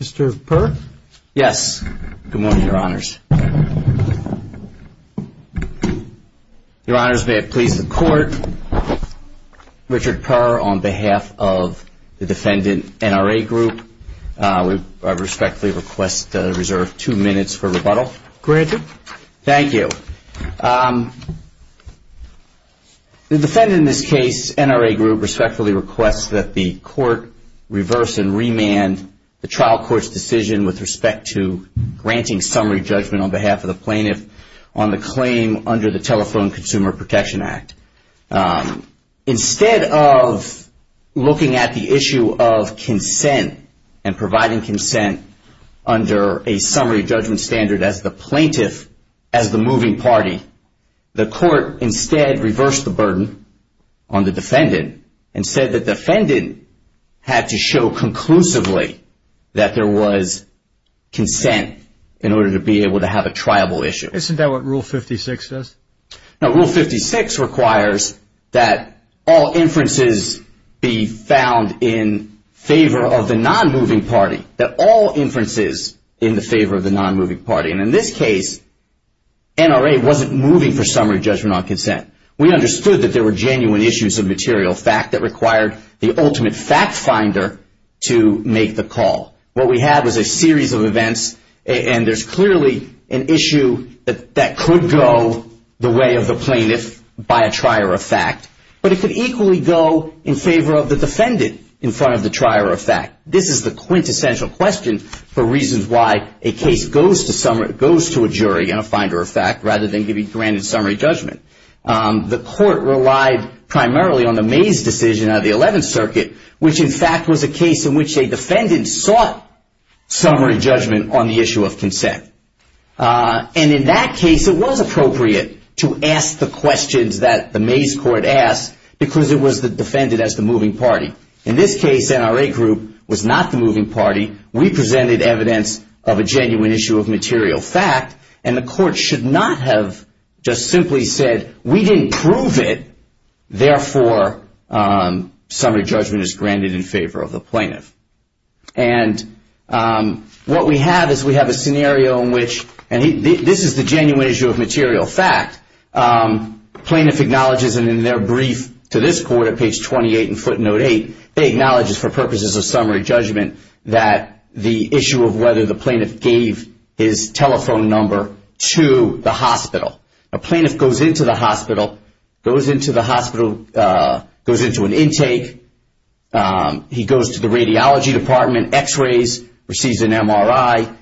Mr. Purr? Yes. Good morning, Your Honors. Your Honors, may it please the Court, Richard Purr, on behalf of the defendant NRA Group, I respectfully request to reserve two minutes for rebuttal. Granted. Thank you. The defendant in this case, NRA Group, respectfully requests that the Court reverse and remand the trial court's decision with respect to granting summary judgment on behalf of the plaintiff on the claim under the Telephone Consumer Protection Act. Instead of looking at the issue of consent and providing consent under a summary judgment standard as the plaintiff, as the moving party, the Court instead reversed the burden on the defendant and said that the defendant had to show conclusively that there was consent in order to be able to have a triable issue. Isn't that what Rule 56 does? No. Rule 56 requires that all inferences be found in favor of the non-moving party. That all inferences in the favor of the non-moving party. And in this case, NRA wasn't moving for summary judgment on consent. We understood that there were genuine issues of material fact that required the ultimate fact finder to make the call. What we had was a series of events and there's clearly an issue that could go the way of the plaintiff by a trier of fact, but it could equally go in favor of the defendant in front of the trier of fact. This is the quintessential question for reasons why a case goes to a jury and then can be granted summary judgment. The Court relied primarily on the Mays decision out of the 11th Circuit, which in fact was a case in which a defendant sought summary judgment on the issue of consent. And in that case, it was appropriate to ask the questions that the Mays Court asked because it was defended as the moving party. In this case, NRA Group was not the moving party. We presented evidence of a genuine issue of material fact and the plaintiff just simply said, we didn't prove it, therefore summary judgment is granted in favor of the plaintiff. And what we have is we have a scenario in which, and this is the genuine issue of material fact, plaintiff acknowledges and in their brief to this Court at page 28 in footnote 8, they acknowledge for purposes of summary judgment that the plaintiff goes into the hospital, goes into the hospital, goes into an intake, he goes to the radiology department, x-rays, receives an MRI,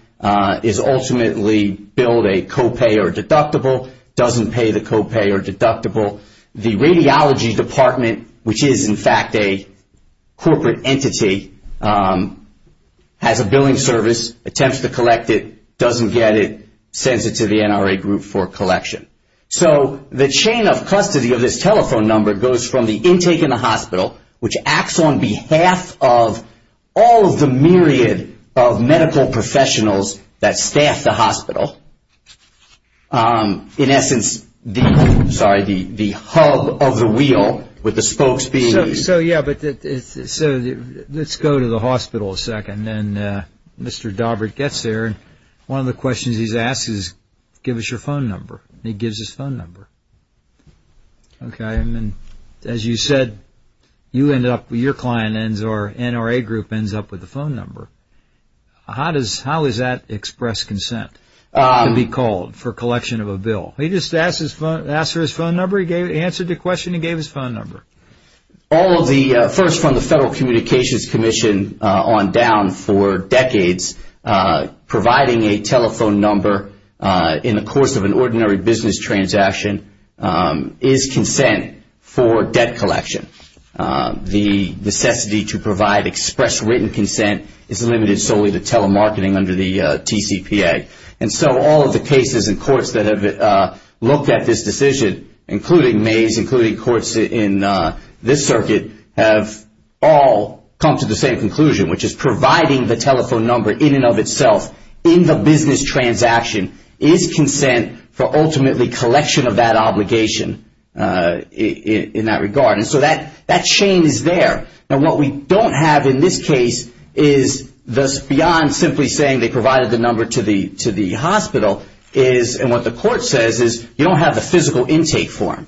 is ultimately billed a copay or deductible, doesn't pay the copay or deductible. The radiology department, which is in fact a corporate entity, has a billing service, attempts to collect it, doesn't get it, sends it to the NRA Group for collection. So the chain of custody of this telephone number goes from the intake in the hospital, which acts on behalf of all of the myriad of medical professionals that staff the hospital, in essence the hub of the wheel with the spokes being used. So let's go to the hospital a second and Mr. Dobbert gets there and one of the questions he's asked is, give us your phone number, and he gives his phone number. As you said, you end up, your client ends up, or NRA Group ends up with the phone number. How does that express consent to be called for collection of a bill? He just asked for his phone number, he answered the question and gave his phone number. All of the, first from the Federal Communications Commission on down for decades, providing a telephone number in the course of an ordinary business transaction is consent for debt collection. The necessity to provide express written consent is limited solely to telemarketing under the TCPA. And so all of the cases and courts that have looked at this decision, including Mays, including courts in this circuit, have all come to the same conclusion, which is providing the telephone number in and of itself in the business transaction is consent for ultimately collection of that obligation in that regard. And so that chain is there. Now what we don't have in this case is thus beyond simply saying they provided the number to the hospital is, and what the court says is, you don't have the physical intake form.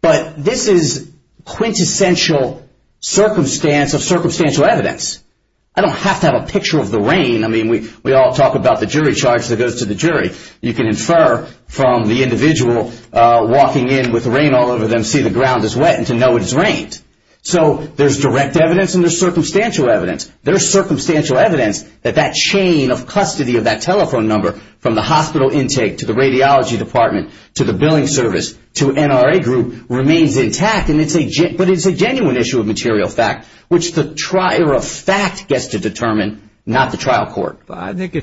But this is quintessential circumstance of circumstantial evidence. I don't have to have a picture of the rain. I mean we all talk about the jury charge that goes to the jury. You can infer from the individual walking in with rain all over them, see the ground is wet and to know it has rained. So there's direct evidence and there's circumstantial evidence. There's circumstantial evidence that that chain of custody of that telephone number from the hospital intake to the radiology department, to the billing service, to NRA group remains intact. But it's a genuine issue of material fact, which the trier of fact gets to determine, not the trial court. I think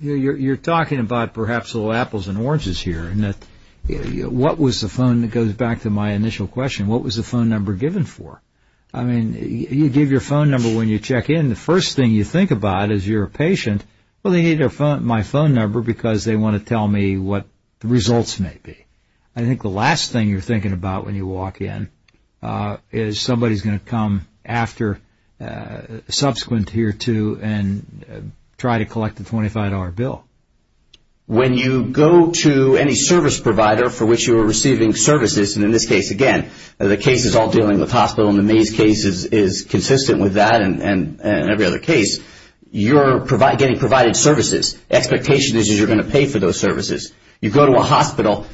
you're talking about perhaps little apples and oranges here. What was the phone that goes back to my initial question, what was the phone number given for? I mean you give your phone number when you check in, the first thing you think about as you're a patient, well they need my phone number because they want to tell me what the results may be. I think the last thing you're thinking about when you walk in is somebody's going to come after, subsequent to year two and try to collect the $25 bill. When you go to any service provider for which you are receiving services, and in this case again the case is all dealing with hospital and the Mays case is consistent with that and every other case, you're getting provided services. Expectation is you're going to pay for those services. You go to a hospital,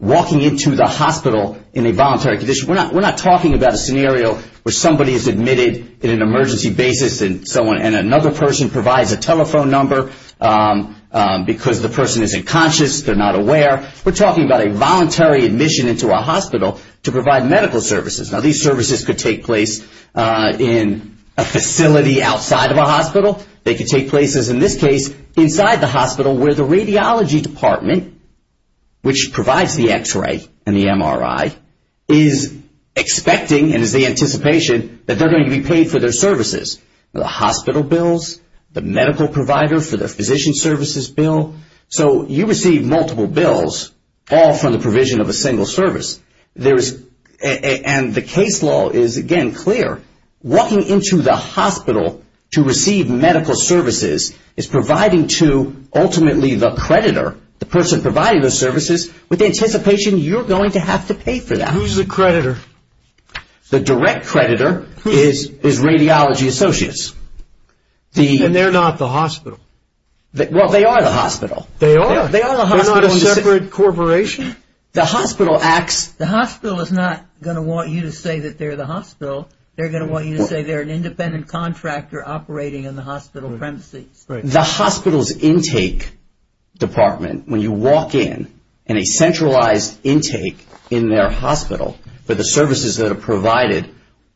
walking into the hospital in a voluntary condition, we're not talking about a scenario where somebody is admitted in an emergency basis and so on and another person provides a telephone number because the person is unconscious, they're not aware. We're talking about a voluntary admission into a hospital to provide medical services. Now these services could take place in a facility outside of a hospital, they could take place as in this case inside the hospital where the radiology department, which provides the x-ray and the MRI, is expecting and is the anticipation that they're going to be paid for their services. The hospital bills, the medical provider for the physician services bill, so you receive multiple bills all from the provision of a single service. And the case law is again clear. Walking into the hospital to receive medical services is providing to ultimately the creditor, the person providing the services, with the anticipation you're going to have to pay for that. Who's the creditor? The direct creditor is Radiology Associates. And they're not the hospital? Well, they are the hospital. They are? They're not a separate corporation? The hospital acts... The hospital is not going to want you to say that they're the hospital. They're going to want you to say they're an independent contractor operating in the hospital premises. The hospital's intake department, when you walk in, and a centralized intake in their hospital for the services that are provided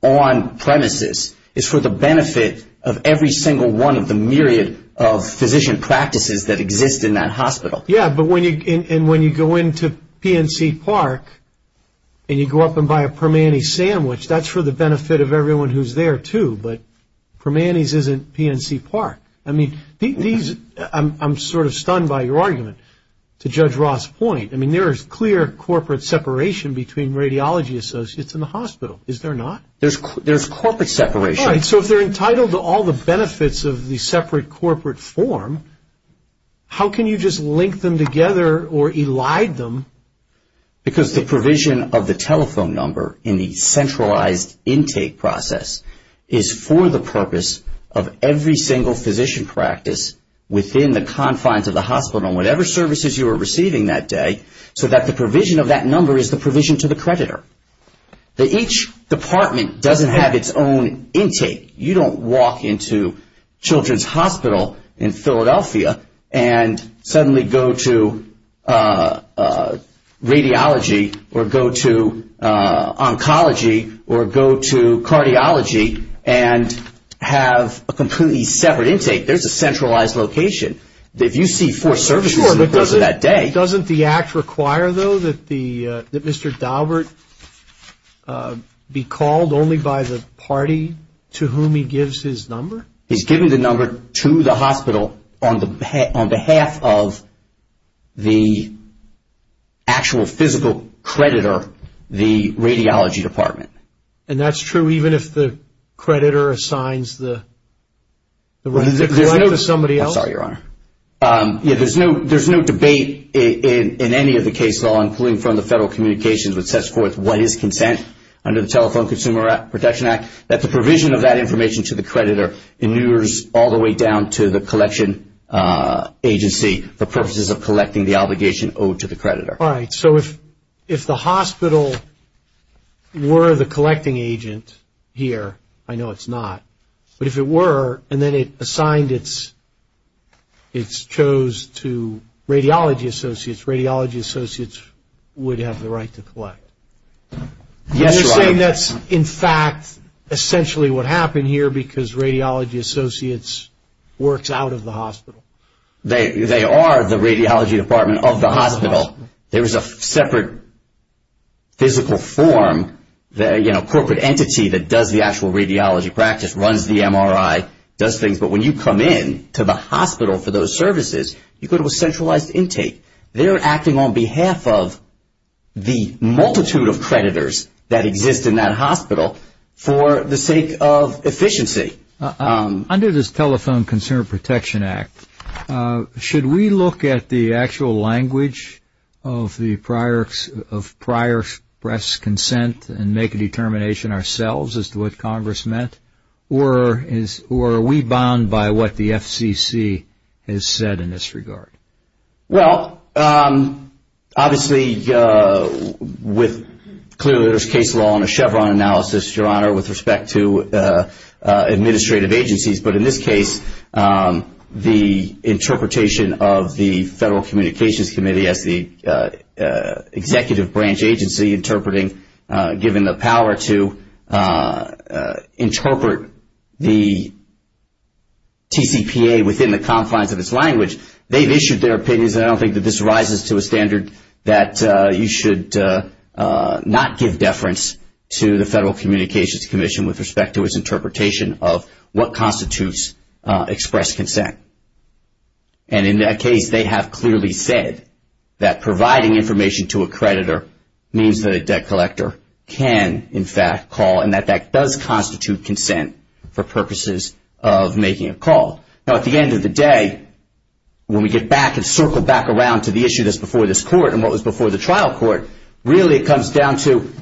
on premises is for the benefit of every single one of the myriad of physician practices that exist in that hospital. Yeah, but when you go into PNC Park and you go up and buy a Permanis sandwich, that's for the benefit of everyone who's there too, but Permanis isn't PNC Park. I mean, I'm sort of stunned by your argument to Judge Ross' point. I mean, there is clear corporate separation between Radiology Associates and the hospital, is there not? There's corporate separation. All right, so if they're entitled to all the benefits of the separate corporate form, how can you just link them together or elide them? Because the provision of the telephone number in the centralized intake process is for the purpose of every single physician practice within the confines of the hospital, whatever services you are receiving that day, so that the provision of that number is the provision to the creditor. Each department doesn't have its own intake. You don't walk into Children's Hospital in Philadelphia and suddenly go to radiology or go to oncology or go to cardiology and have a completely separate intake. There's a centralized location. If you see four services in the course of that day... Sure, but doesn't the act require, though, that Mr. Daubert be called only by the party to whom he gives his number? He's given the number to the hospital on behalf of the actual physical creditor, the radiology department. And that's true even if the creditor assigns the credit to somebody else? There's no debate in any of the cases, including from the Federal Communications, which sets forth what is consent under the Telephone Consumer Protection Act, that the provision of that information to the creditor inures all the way down to the collection agency for purposes of collecting the obligation owed to the creditor. All right, so if the hospital were the collecting agent here, I know it's not, but if it were and then it assigned its chose to radiology associates, radiology associates would have Yes, Your Honor. That's in fact essentially what happened here because radiology associates works out of the hospital. They are the radiology department of the hospital. There is a separate physical form, a corporate entity that does the actual radiology practice, runs the MRI, does things. But when you come in to the hospital for those services, you go to a centralized intake. They're acting on behalf of the multitude of creditors that exist in that hospital for the sake of efficiency. Under this Telephone Consumer Protection Act, should we look at the actual language of prior press consent and make a determination ourselves as to what Congress meant? Or are we bound by what the FCC has said in this regard? Well, obviously with clear case law and a Chevron analysis, Your Honor, with respect to administrative agencies. But in this case, the interpretation of the Federal Communications Committee as the executive branch agency interpreting, given the power to interpret the TCPA within the confines of its language, they've issued their opinions. I don't think that this rises to a standard that you should not give deference to the Federal Communications Commission with respect to its interpretation of what constitutes express consent. And in that case, they have clearly said that providing information to a creditor means that a debt collector can in fact call and that that does constitute consent for purposes of making a call. Now at the end of the day, when we get back and circle back around to the issue that's before this court and what was before the trial court, really it comes down to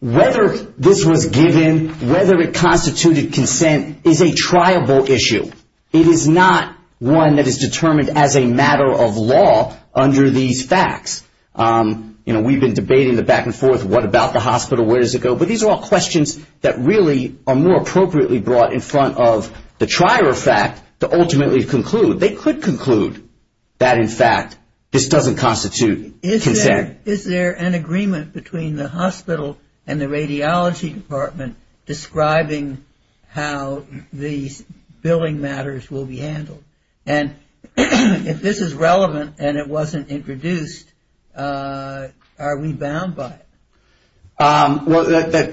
whether this was given, whether it constituted consent is a triable issue. It is not one that is determined as a matter of law under these facts. You know, we've been debating the back and forth, what about the hospital? Where does it go? But these are all questions that really are more appropriately brought in front of the trier of fact to ultimately conclude. They could conclude that in fact this doesn't constitute consent. Is there an agreement between the hospital and the radiology department describing how these billing matters will be handled? And if this is relevant and it wasn't introduced, are we bound by it? Well,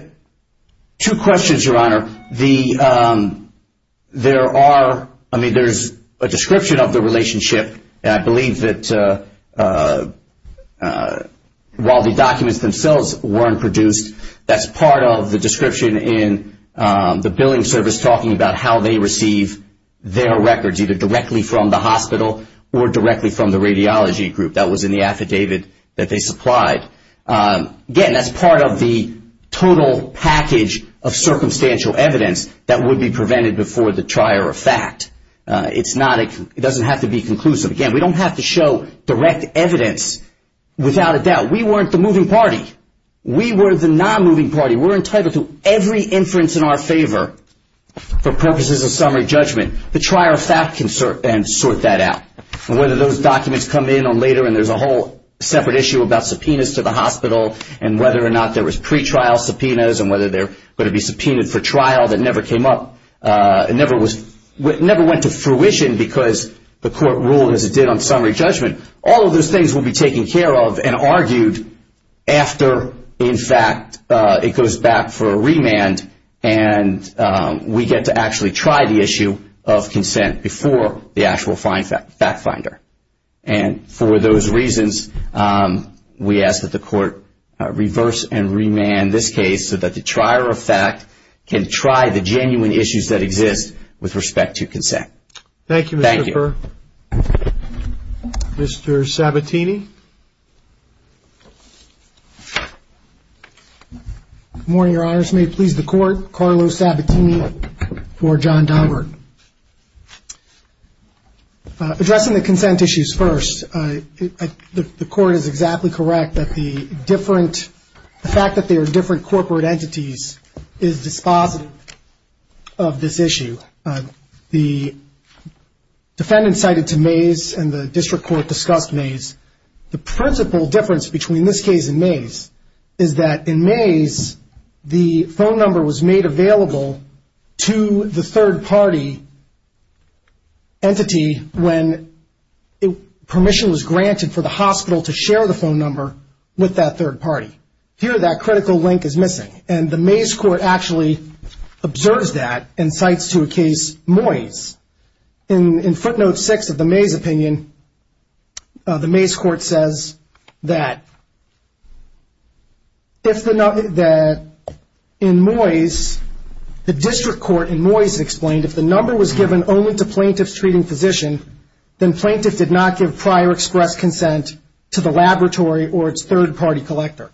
two questions, Your Honor. There are, I mean, there's a description of the relationship and I believe that while the documents themselves weren't produced, that's part of the description in the billing service talking about how they receive their records, either directly from the hospital or directly from the radiology group. That was in the affidavit that they supplied. Again, that's part of the total package of circumstantial evidence that would be prevented before the trier of fact. It's not, it doesn't have to be conclusive. Again, we don't have to show direct evidence without a doubt. We weren't the moving party. We were the non-moving party. We're entitled to every inference in our favor for purposes of summary judgment. The trier of fact can sort that out. Whether those documents come in later and there's a whole separate issue about subpoenas to the hospital and whether or not there was pretrial subpoenas and whether they're going to be subpoenaed for trial that never came up, never went to fruition because the court ruled as it did on summary judgment. All of those things will be taken care of and argued after, in fact, it goes back for a remand and we get to actually try the issue of consent before the actual fact finder. For those reasons, we ask that the court reverse and remand this case so that the trier of fact can try the genuine issues that exist with respect to consent. Thank you, Mr. Burr. Thank you. Mr. Sabatini. Good morning, Your Honors. May it please the court, Carlos Sabatini for John Daubert. Addressing the consent issues first, the court is exactly correct that the fact that they are different corporate entities is dispositive of this issue. The defendant cited to Mays and the principal difference between this case and Mays is that in Mays, the phone number was made available to the third party entity when permission was granted for the hospital to share the phone number with that third party. Here that critical link is missing and the Mays court actually observes that and cites to a case Moyes. In footnote six of the Mays opinion, the Mays court says that in Moyes, the district court in Moyes explained if the number was given only to plaintiffs treating physician, then plaintiff did not give prior express consent to the laboratory or its third party collector.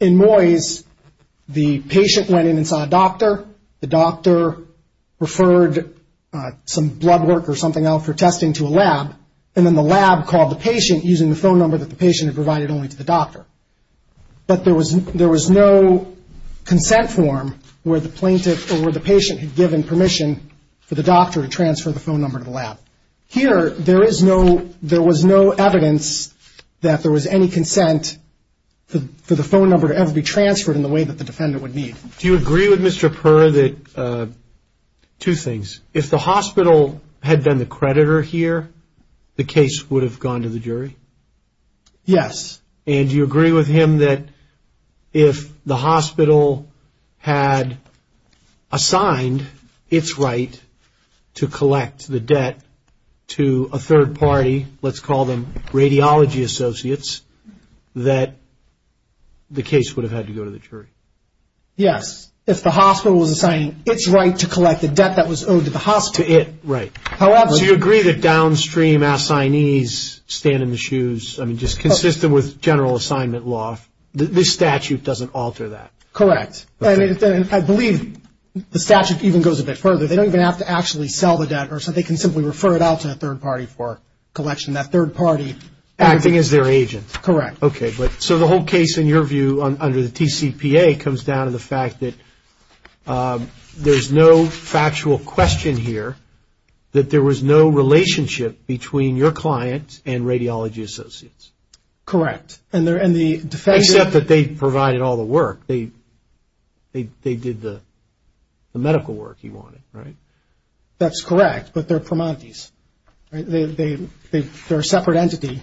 In Moyes, the patient went in and saw a doctor, the doctor referred some blood work or something else for testing to the lab and then the lab called the patient using the phone number that the patient had provided only to the doctor. But there was no consent form where the patient had given permission for the doctor to transfer the phone number to the lab. Here, there was no evidence that there was any consent for the phone number to ever be transferred in the way that the defendant would need. Do you agree with Mr. Purr that two things, if the hospital was there, the case would have gone to the jury? Yes. And do you agree with him that if the hospital had assigned its right to collect the debt to a third party, let's call them radiology associates, that the case would have had to go to the jury? Yes. If the hospital was assigning its right to collect the debt that was owed to the hospital. To a degree that downstream assignees stand in the shoes, I mean, just consistent with general assignment law, this statute doesn't alter that. Correct. And I believe the statute even goes a bit further. They don't even have to actually sell the debt or something. They can simply refer it out to a third party for collection. That third party acting as their agent. Correct. Okay. So the whole case in your view under the TCPA comes down to the relationship between your client and radiology associates. Correct. Except that they provided all the work. They did the medical work you wanted, right? That's correct, but they're Pramantis. They're a separate entity.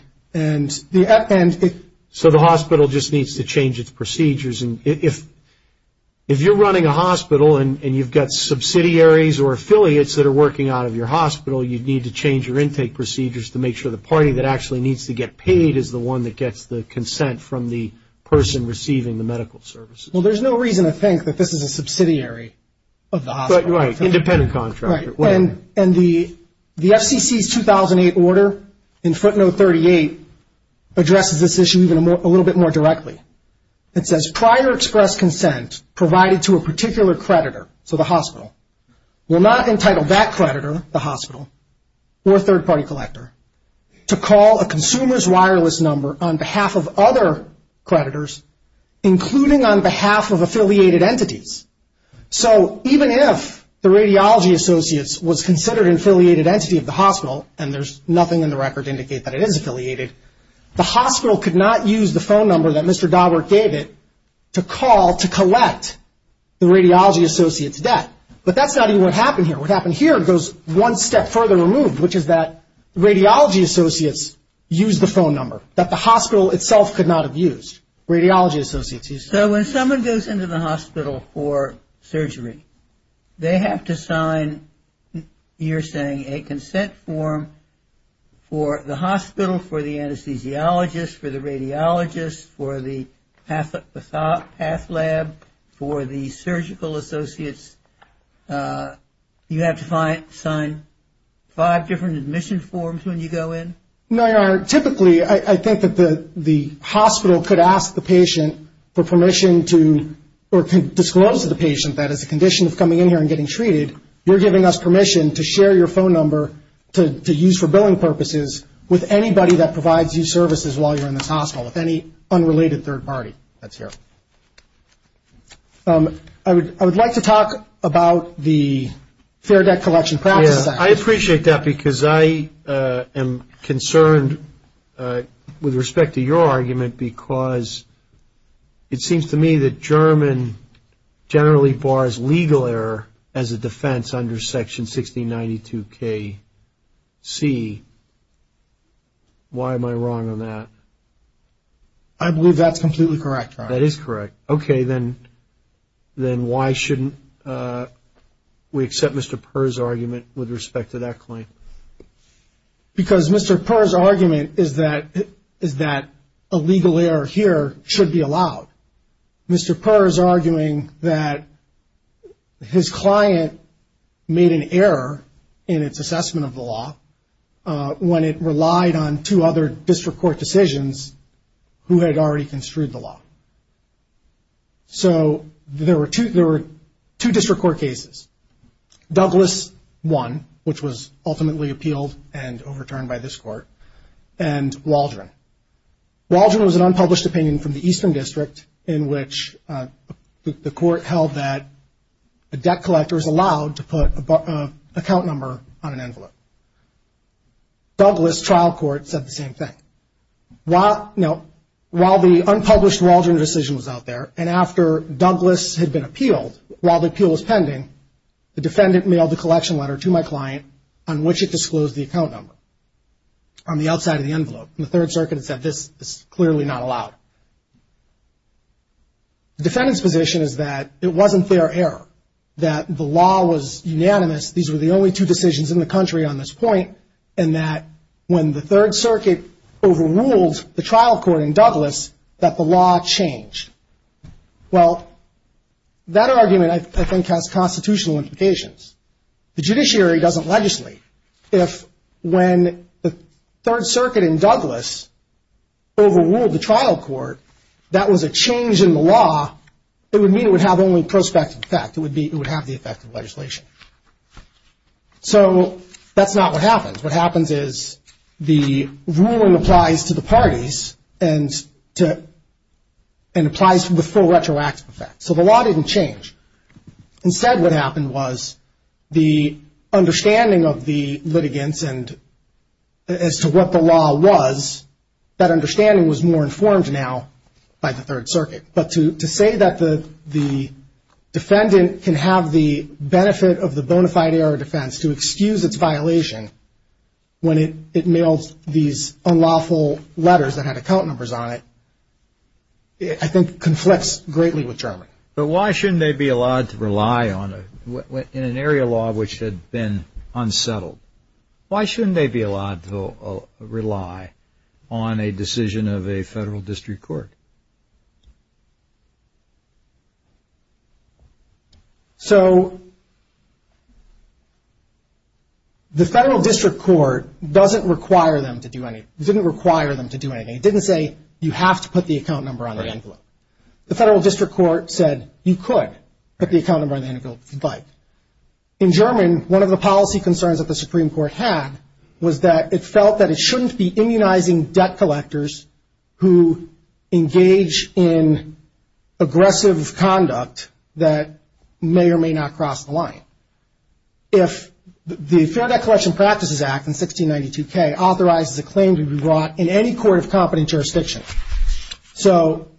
So the hospital just needs to change its procedures and if you're running a hospital and you've got subsidiaries or affiliates that are working out of your hospital, you'd need to change your intake procedures to make sure the party that actually needs to get paid is the one that gets the consent from the person receiving the medical services. Well, there's no reason to think that this is a subsidiary of the hospital. Right. Independent contractor. Right. And the FCC's 2008 order in footnote 38 addresses this issue even a little bit more directly. It says prior express consent provided to a particular creditor, so the hospital, will not entitle that creditor, the hospital, or third party collector, to call a consumer's wireless number on behalf of other creditors including on behalf of affiliated entities. So even if the radiology associates was considered an affiliated entity of the hospital, and there's nothing in the record to indicate that it is affiliated, the hospital could not use the phone number that Mr. Dawbert gave it to call to collect the radiology associates' debt. But that's not even what happened here. What happened here goes one step further removed, which is that radiology associates used the phone number that the hospital itself could not have used. Radiology associates used it. So when someone goes into the hospital for surgery, they have to sign, you're saying, a consent form for the hospital, for the anesthesiologist, for the radiologist, for the path lab, for the surgical associates, you have to sign five different admission forms when you go in? No, Your Honor. Typically, I think that the hospital could ask the patient for permission to, or could disclose to the patient that as a condition of coming in here and getting treated, you're giving us permission to share your phone number to use for billing purposes with anybody that provides you services while you're in this hospital, with any unrelated third party that's here. I would like to talk about the fair debt collection process. I appreciate that because I am concerned with respect to your argument because it seems to me that the German generally bars legal error as a defense under section 1692KC. Why am I wrong on that? I believe that's completely correct, Your Honor. That is correct. Okay, then why shouldn't we accept Mr. Purr's argument with respect to that claim? Because Mr. Purr's argument is that a legal error here should be allowed. Mr. Purr is arguing that his client made an error in its assessment of the law when it relied on two other district court decisions who had already construed the law. So there were two district court cases, Douglas I, which was ultimately appealed and overturned by this court, and Waldron. Waldron was an unpublished opinion from the Eastern District in which the court held that a debt collector is allowed to put an account number on an envelope. Douglas, trial court, said the same thing. While the unpublished Waldron decision was out there and after Douglas had been appealed, while the appeal was pending, the defendant mailed a collection letter to my client on which it disclosed the account number on the outside of the envelope. And the Third Circuit said this is clearly not allowed. The defendant's position is that it wasn't their error, that the law was unanimous, these were the only two decisions in the country on this point, and that when the Third Circuit overruled the trial court in Douglas, that the law changed. Well, that argument, I think, has constitutional implications. The judiciary doesn't legislate. If when the Third Circuit in Douglas overruled the trial court, that was a change in the law, it would mean it would have only prospective effect. It would have the effect of legislation. So that's not what happens. What happens is the ruling applies to the parties and applies to the full retroactive effect. So the law didn't change. Instead, what happened was the understanding of the litigants and as to what the law was, that understanding was more informed now by the Third Circuit. But to say that the defendant can have the benefit of the bona fide error of defense to excuse its violation when it mailed these unlawful letters that had account numbers on it, I think, conflicts greatly with Germany. But why shouldn't they be allowed to rely on an area law which had been unsettled? Why shouldn't they be allowed to rely on a decision of a federal district court? So the federal district court doesn't require them to do anything. It didn't require them to do anything. It didn't say you have to put the account number on the envelope. The federal district court said you could put the account number on the envelope if you'd like. In German, one of the policy concerns that the Supreme Court had was that it felt that it shouldn't be immunizing debt collectors who engage in aggressive conduct that may or may not cross the line. If the Fair Debt Collection Practices Act in 1692K authorizes a claim to be brought in any court of competent jurisdiction. So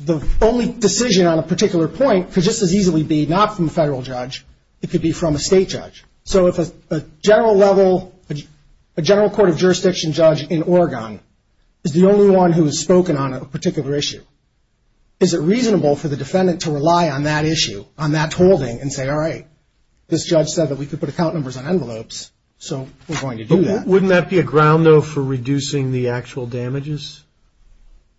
the only decision on a particular point could just as easily be not from a federal judge. It could be from a state judge. So if a general level, a general court of jurisdiction judge in Oregon is the only one who has spoken on a particular issue, is it reasonable for the defendant to rely on that issue, on that holding, and say, all right, this judge said that we could put account numbers on envelopes, so we're going to do that. Wouldn't that be a ground, though, for reducing the actual damages?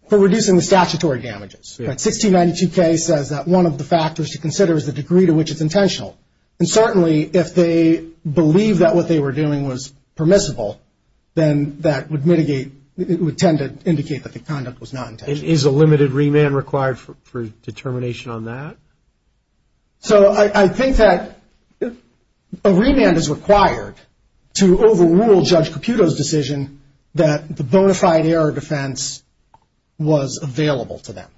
For reducing the statutory damages. 1692K says that one of the factors to consider is the degree to which it's intentional. And certainly, if they believe that what they were doing was permissible, then that would mitigate, it would tend to indicate that the conduct was not intentional. Is a limited remand required for determination on that? So I think that a remand is required to overrule Judge Caputo's decision that the bona fide error defense was available to them.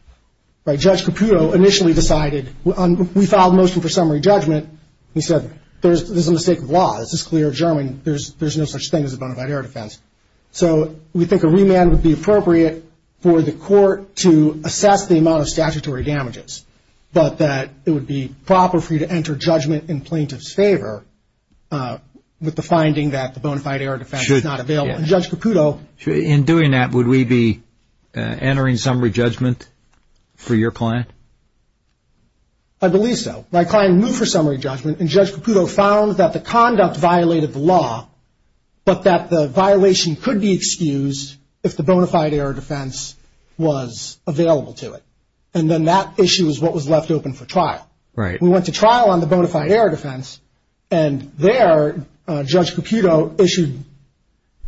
Judge Caputo initially decided, we filed a motion for summary judgment, he said, there's a mistake of law, this is clear German, there's no such thing as a bona fide error defense. So we think a remand would be appropriate for the court to assess the amount of statutory damages. But that it would be proper for you to enter judgment in plaintiff's favor with the finding that the bona fide error defense is not available. And Judge Caputo... In doing that, would we be entering summary judgment for your client? I believe so. My client moved for summary judgment, and Judge Caputo found that the conduct violated the law, but that the violation could be excused if the bona fide error defense was available to it. And then that issue is what was left open for trial. Right. We went to trial on the bona fide error defense, and there, Judge Caputo issued,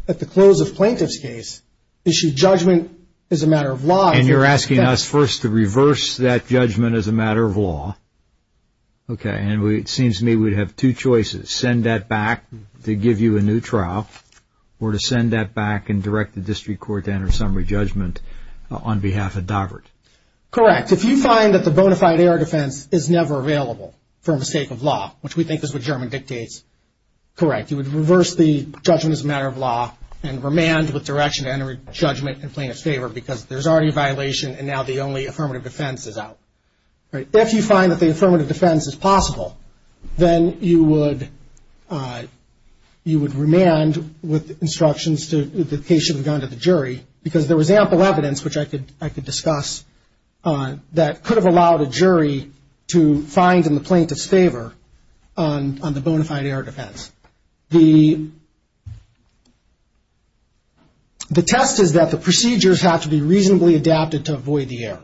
at the close of plaintiff's case, issued judgment as a matter of law. And you're asking us first to reverse that judgment as a matter of law. Okay. And it seems to me we'd have two choices, send that back to give you a new trial, or to send that back and direct the district court to enter summary judgment on behalf of Daubert. Correct. If you find that the bona fide error defense is never available for mistake of law, which we think is what German dictates, correct. You would reverse the judgment as a matter of law and remand with direction to enter judgment in plaintiff's favor because there's already a violation, and now the only affirmative defense is out. Right. If you find that the affirmative defense is possible, then you would remand with instructions to the case should have gone to the jury because there was ample evidence, which I could discuss that could have allowed a jury to find in the plaintiff's favor on the bona fide error defense. The test is that the procedures have to be reasonably adapted to avoid the error.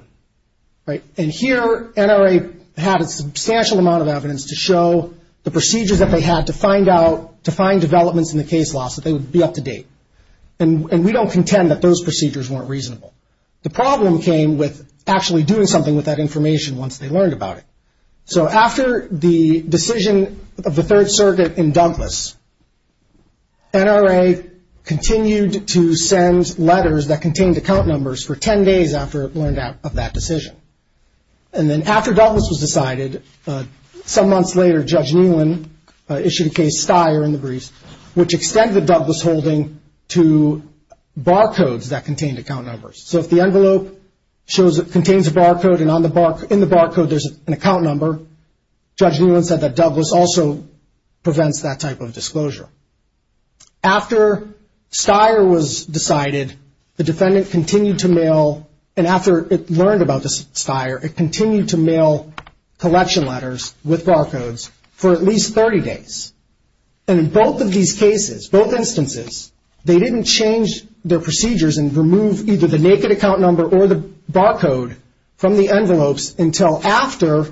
Right. And here NRA had a substantial amount of evidence to show the procedures that they had to find out, to find developments in the case law so they would be up to date. And we don't contend that those procedures weren't reasonable. The problem came with actually doing something with that information once they learned about it. So after the decision of the Third Circuit in Douglas, NRA continued to send letters that contained account numbers for 10 days after it learned of that decision. And then after Douglas was decided, some months later, Judge Nealon issued a case, Steyer in the briefs, which extended Douglas holding to barcodes that contained account numbers. So if the envelope contains a barcode and in the barcode there's an account number, Judge Nealon said that Douglas also prevents that type of disclosure. After Steyer was decided, the defendant continued to mail, and after it learned about Steyer, it continued to mail collection letters with barcodes for at least 30 days. And in both of these cases, both instances, they didn't change their procedures and remove either the naked account number or the barcode from the envelopes until after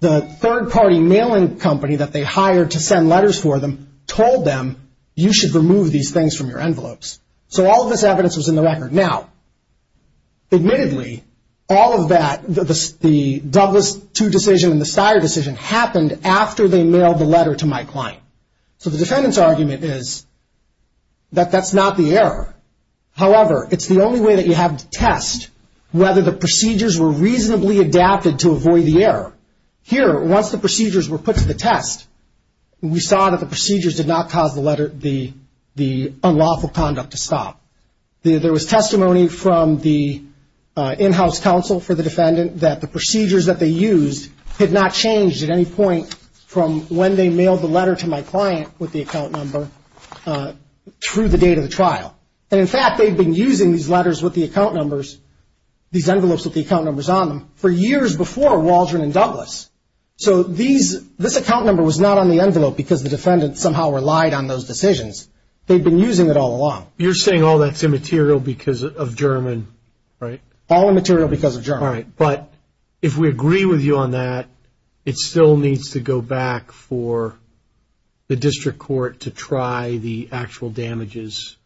the third-party mailing company that they hired to send letters for them told them, you should remove these things from your envelopes. So all of this evidence was in the record. Now, admittedly, all of that, the Douglas II decision and the Steyer decision happened after they mailed the letter to my client. So the defendant's argument is that that's not the error. However, it's the only way that you have to test whether the procedures were reasonably adapted to avoid the error. Here, once the procedures were put to the test, we saw that the procedures did not cause the unlawful conduct to stop. There was testimony from the in-house counsel for the defendant that the procedures that they used had not changed at any point from when they mailed the letter to my client with the account number through the date of the trial. In fact, they've been using these letters with the account numbers, these envelopes with the account numbers on them for years before Waldron and Douglas. So this account number was not on the envelope because the defendant somehow relied on those decisions. They've been using it all along. You're saying all that's immaterial because of German, right? All immaterial because of German. All right. But if we agree with you on that, it still needs to go back for the district court to try the actual damages.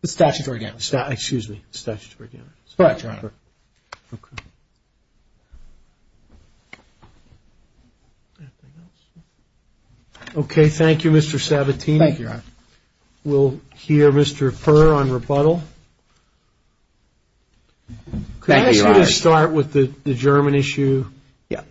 The statutory damages. Excuse me. Statutory damages. All right, Your Honor. Thank you, Mr. Sabatini. Thank you, Your Honor. We'll hear Mr. Furr on rebuttal. Thank you, Your Honor. Could I ask you to start with the German issue? Yeah.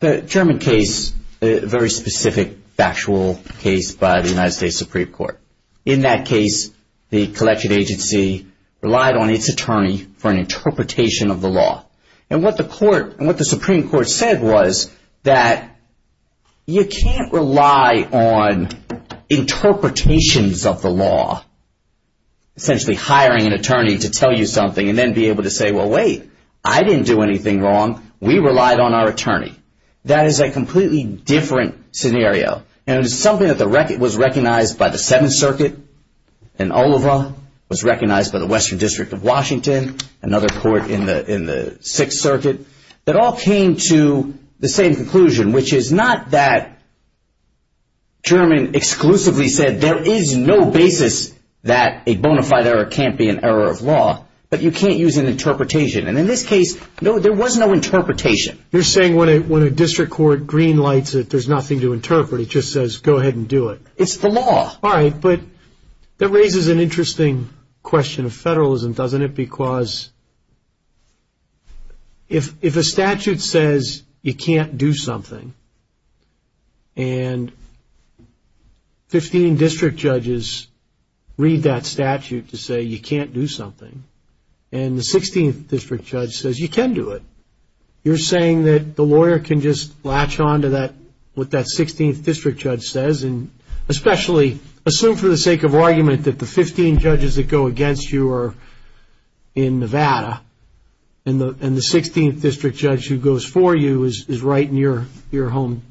The German case, a very specific factual case by the United States Supreme Court. In that case, the collection agency relied on its attorney for an interpretation of the law. And what the court and what the Supreme Court said was that you can't rely on interpretations of the law, essentially hiring an attorney to tell you something and then be able to say, well, wait, I didn't do anything wrong. We relied on our attorney. That is a completely different scenario. And it is something that was recognized by the Seventh Circuit in Oliva, was recognized by the Western District of Washington, another court in the Sixth Circuit, that all came to the same conclusion, which is not that German exclusively said there is no basis that a bona fide error can't be an error of law, but you can't use an interpretation. And in this case, no, there was no interpretation. You're saying when a district court greenlights it, there's nothing to interpret. It just says go ahead and do it. It's the law. All right. But that raises an interesting question of federalism, doesn't it? Because if a statute says you can't do something and 15 district judges read that statute to say you can't do something and the 16th district judge says you can do it, you're saying that lawyer can just latch on to what that 16th district judge says and especially assume for the sake of argument that the 15 judges that go against you are in Nevada and the 16th district judge who goes for you is right in your home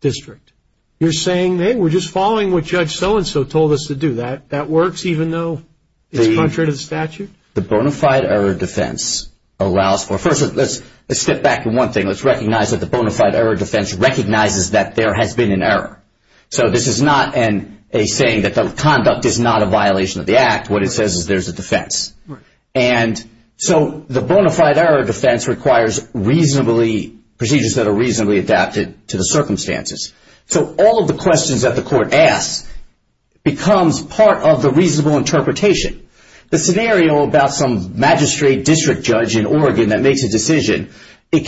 district. You're saying, hey, we're just following what judge so-and-so told us to do. That works even though it's contrary to the statute? The bona fide error defense allows for... First, let's step back in one thing. Let's recognize that the bona fide error defense recognizes that there has been an error. So this is not a saying that the conduct is not a violation of the act. What it says is there's a defense. And so the bona fide error defense requires reasonably... procedures that are reasonably adapted to the circumstances. So all of the questions that the court asks becomes part of the reasonable interpretation. The scenario about some magistrate district judge in Oregon that makes a decision, it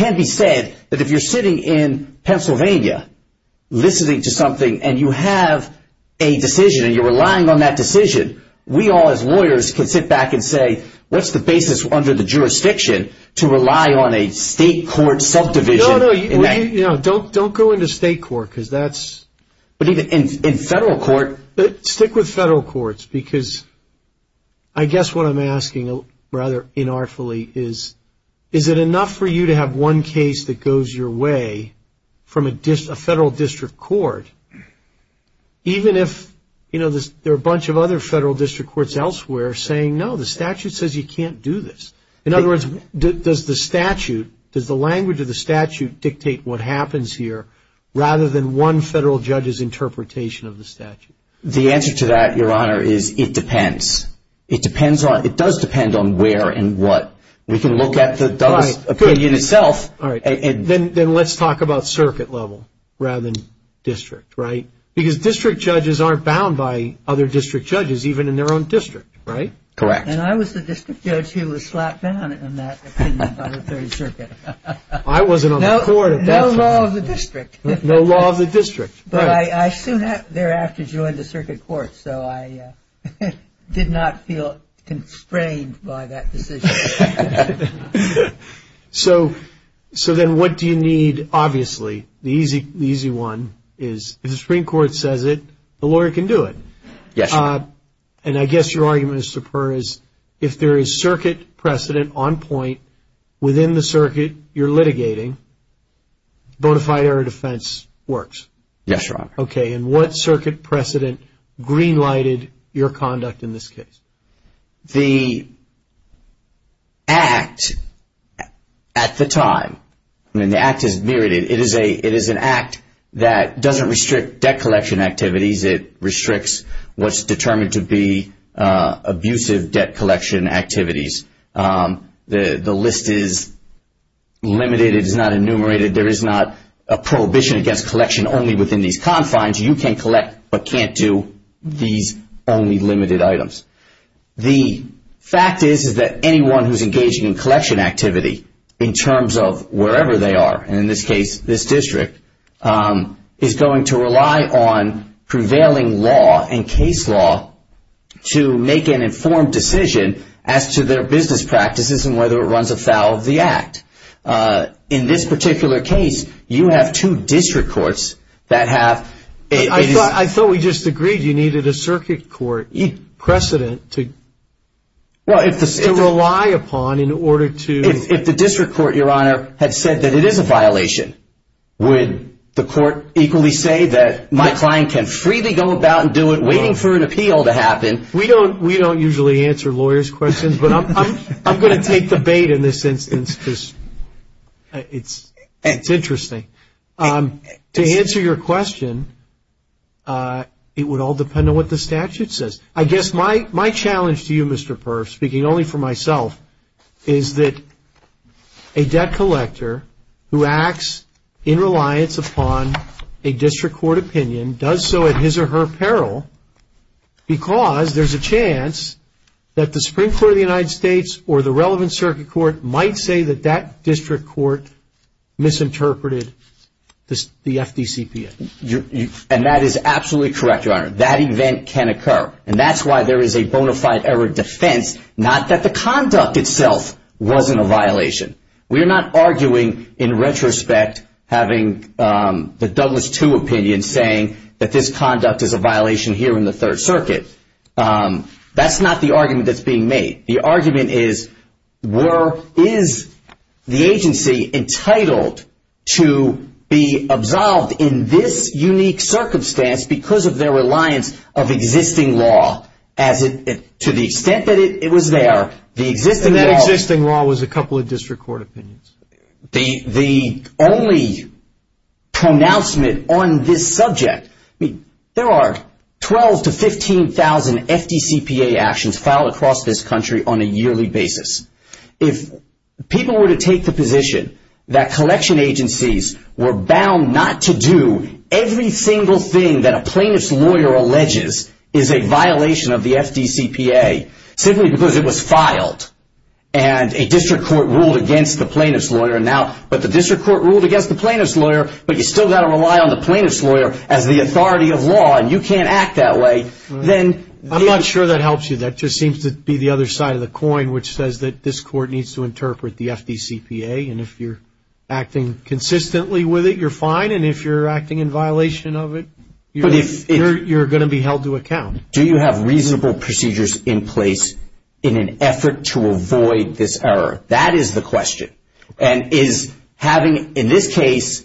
can be said that if you're sitting in Pennsylvania listening to something and you have a decision and you're relying on that decision, we all as lawyers can sit back and say, what's the basis under the jurisdiction to rely on a state court subdivision? No, no, don't go into state court because that's... But even in federal court... Stick with federal courts because I guess what I'm asking rather inartfully is, is it enough for you to have one case that goes your way from a federal district court? Even if there are a bunch of other federal district courts elsewhere saying, no, the statute says you can't do this. In other words, does the statute... Does the language of the statute dictate what happens here rather than one federal judge's interpretation of the statute? The answer to that, Your Honor, is it depends. It depends on... It does depend on where and what. We can look at the opinion itself and... Then let's talk about circuit level rather than district, right? Because district judges aren't bound by other district judges, even in their own district, right? Correct. And I was the district judge who was slapped down in that opinion by the third circuit. I wasn't on the court at that time. No law of the district. No law of the district. But I soon thereafter joined the circuit court, so I did not feel constrained by that decision. So then what do you need, obviously, the easy one is, if the Supreme Court says it, the lawyer can do it. Yes, Your Honor. And I guess your argument, Mr. Purr, is if there is circuit precedent on point within the circuit you're litigating, bona fide error defense works. Yes, Your Honor. Okay. And what circuit precedent green-lighted your conduct in this case? The act at the time, I mean, the act is mirrored. It is an act that doesn't restrict debt collection activities. It restricts what's determined to be abusive debt collection activities. The list is limited. It is not enumerated. There is not a prohibition against collection only within these confines. You can collect but can't do these only limited items. The fact is that anyone who's engaging in collection activity in terms of wherever they are, and in this case, this district, is going to rely on prevailing law and case law to make an informed decision as to their business practices and whether it runs afoul of the act. In this particular case, you have two district courts that have... Well, if the... ...to rely upon in order to... If the district court, Your Honor, had said that it is a violation, would the court equally say that my client can freely go about and do it waiting for an appeal to happen? We don't usually answer lawyers' questions, but I'm going to take the bait in this instance because it's interesting. To answer your question, it would all depend on what the statute says. I guess my challenge to you, Mr. Perf, speaking only for myself, is that a debt collector who acts in reliance upon a district court opinion does so at his or her peril because there's a chance that the Supreme Court of the United States or the relevant circuit court might say that that district court misinterpreted the FDCPA. And that is absolutely correct, Your Honor. That event can occur. And that's why there is a bona fide error defense, not that the conduct itself wasn't a violation. We're not arguing in retrospect, having the Douglas II opinion saying that this conduct is a violation here in the Third Circuit. That's not the argument that's being made. The argument is, is the agency entitled to be absolved in this unique circumstance because of their reliance of existing law to the extent that it was there. And that existing law was a couple of district court opinions. The only pronouncement on this subject, there are 12,000 to 15,000 FDCPA actions filed across this country on a yearly basis. If people were to take the position that collection agencies were bound not to do every single thing that a plaintiff's lawyer alleges is a violation of the FDCPA, simply because it was filed and a district court ruled against the plaintiff's lawyer. And now, but the district court ruled against the plaintiff's lawyer, but you still got to rely on the plaintiff's lawyer as the authority of law. And you can't act that way. Then I'm not sure that helps you. That just seems to be the other side of the coin, which says that this court needs to interpret the FDCPA. And if you're acting consistently with it, you're fine. And if you're acting in violation of it, you're going to be held to account. Do you have reasonable procedures in place in an effort to avoid this error? That is the question. And is having, in this case,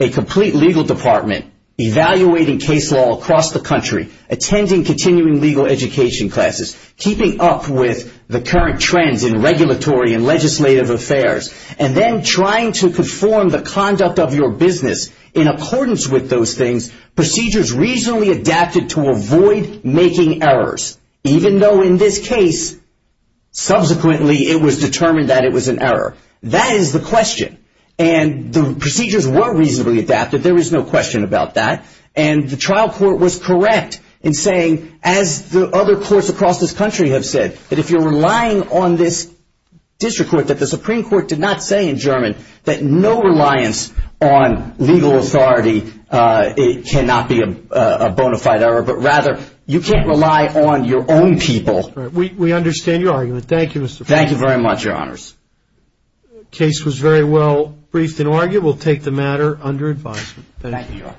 a complete legal department, evaluating case law across the country, attending continuing legal education classes, keeping up with the current trends in regulatory and legislative affairs, and then trying to conform the conduct of your business in accordance with those things, procedures reasonably adapted to avoid making errors, even though in this case, subsequently, it was determined that it was an error. That is the question. And the procedures were reasonably adapted. There is no question about that. And the trial court was correct in saying, as the other courts across this country have said, that if you're relying on this district court, that the Supreme Court did not say in German, that no reliance on legal authority cannot be a bona fide error, but rather, you can't rely on your own people. We understand your argument. Thank you, Mr. President. Thank you very much, Your Honors. Case was very well briefed and argued. We'll take the matter under advisement. Thank you, Your Honor.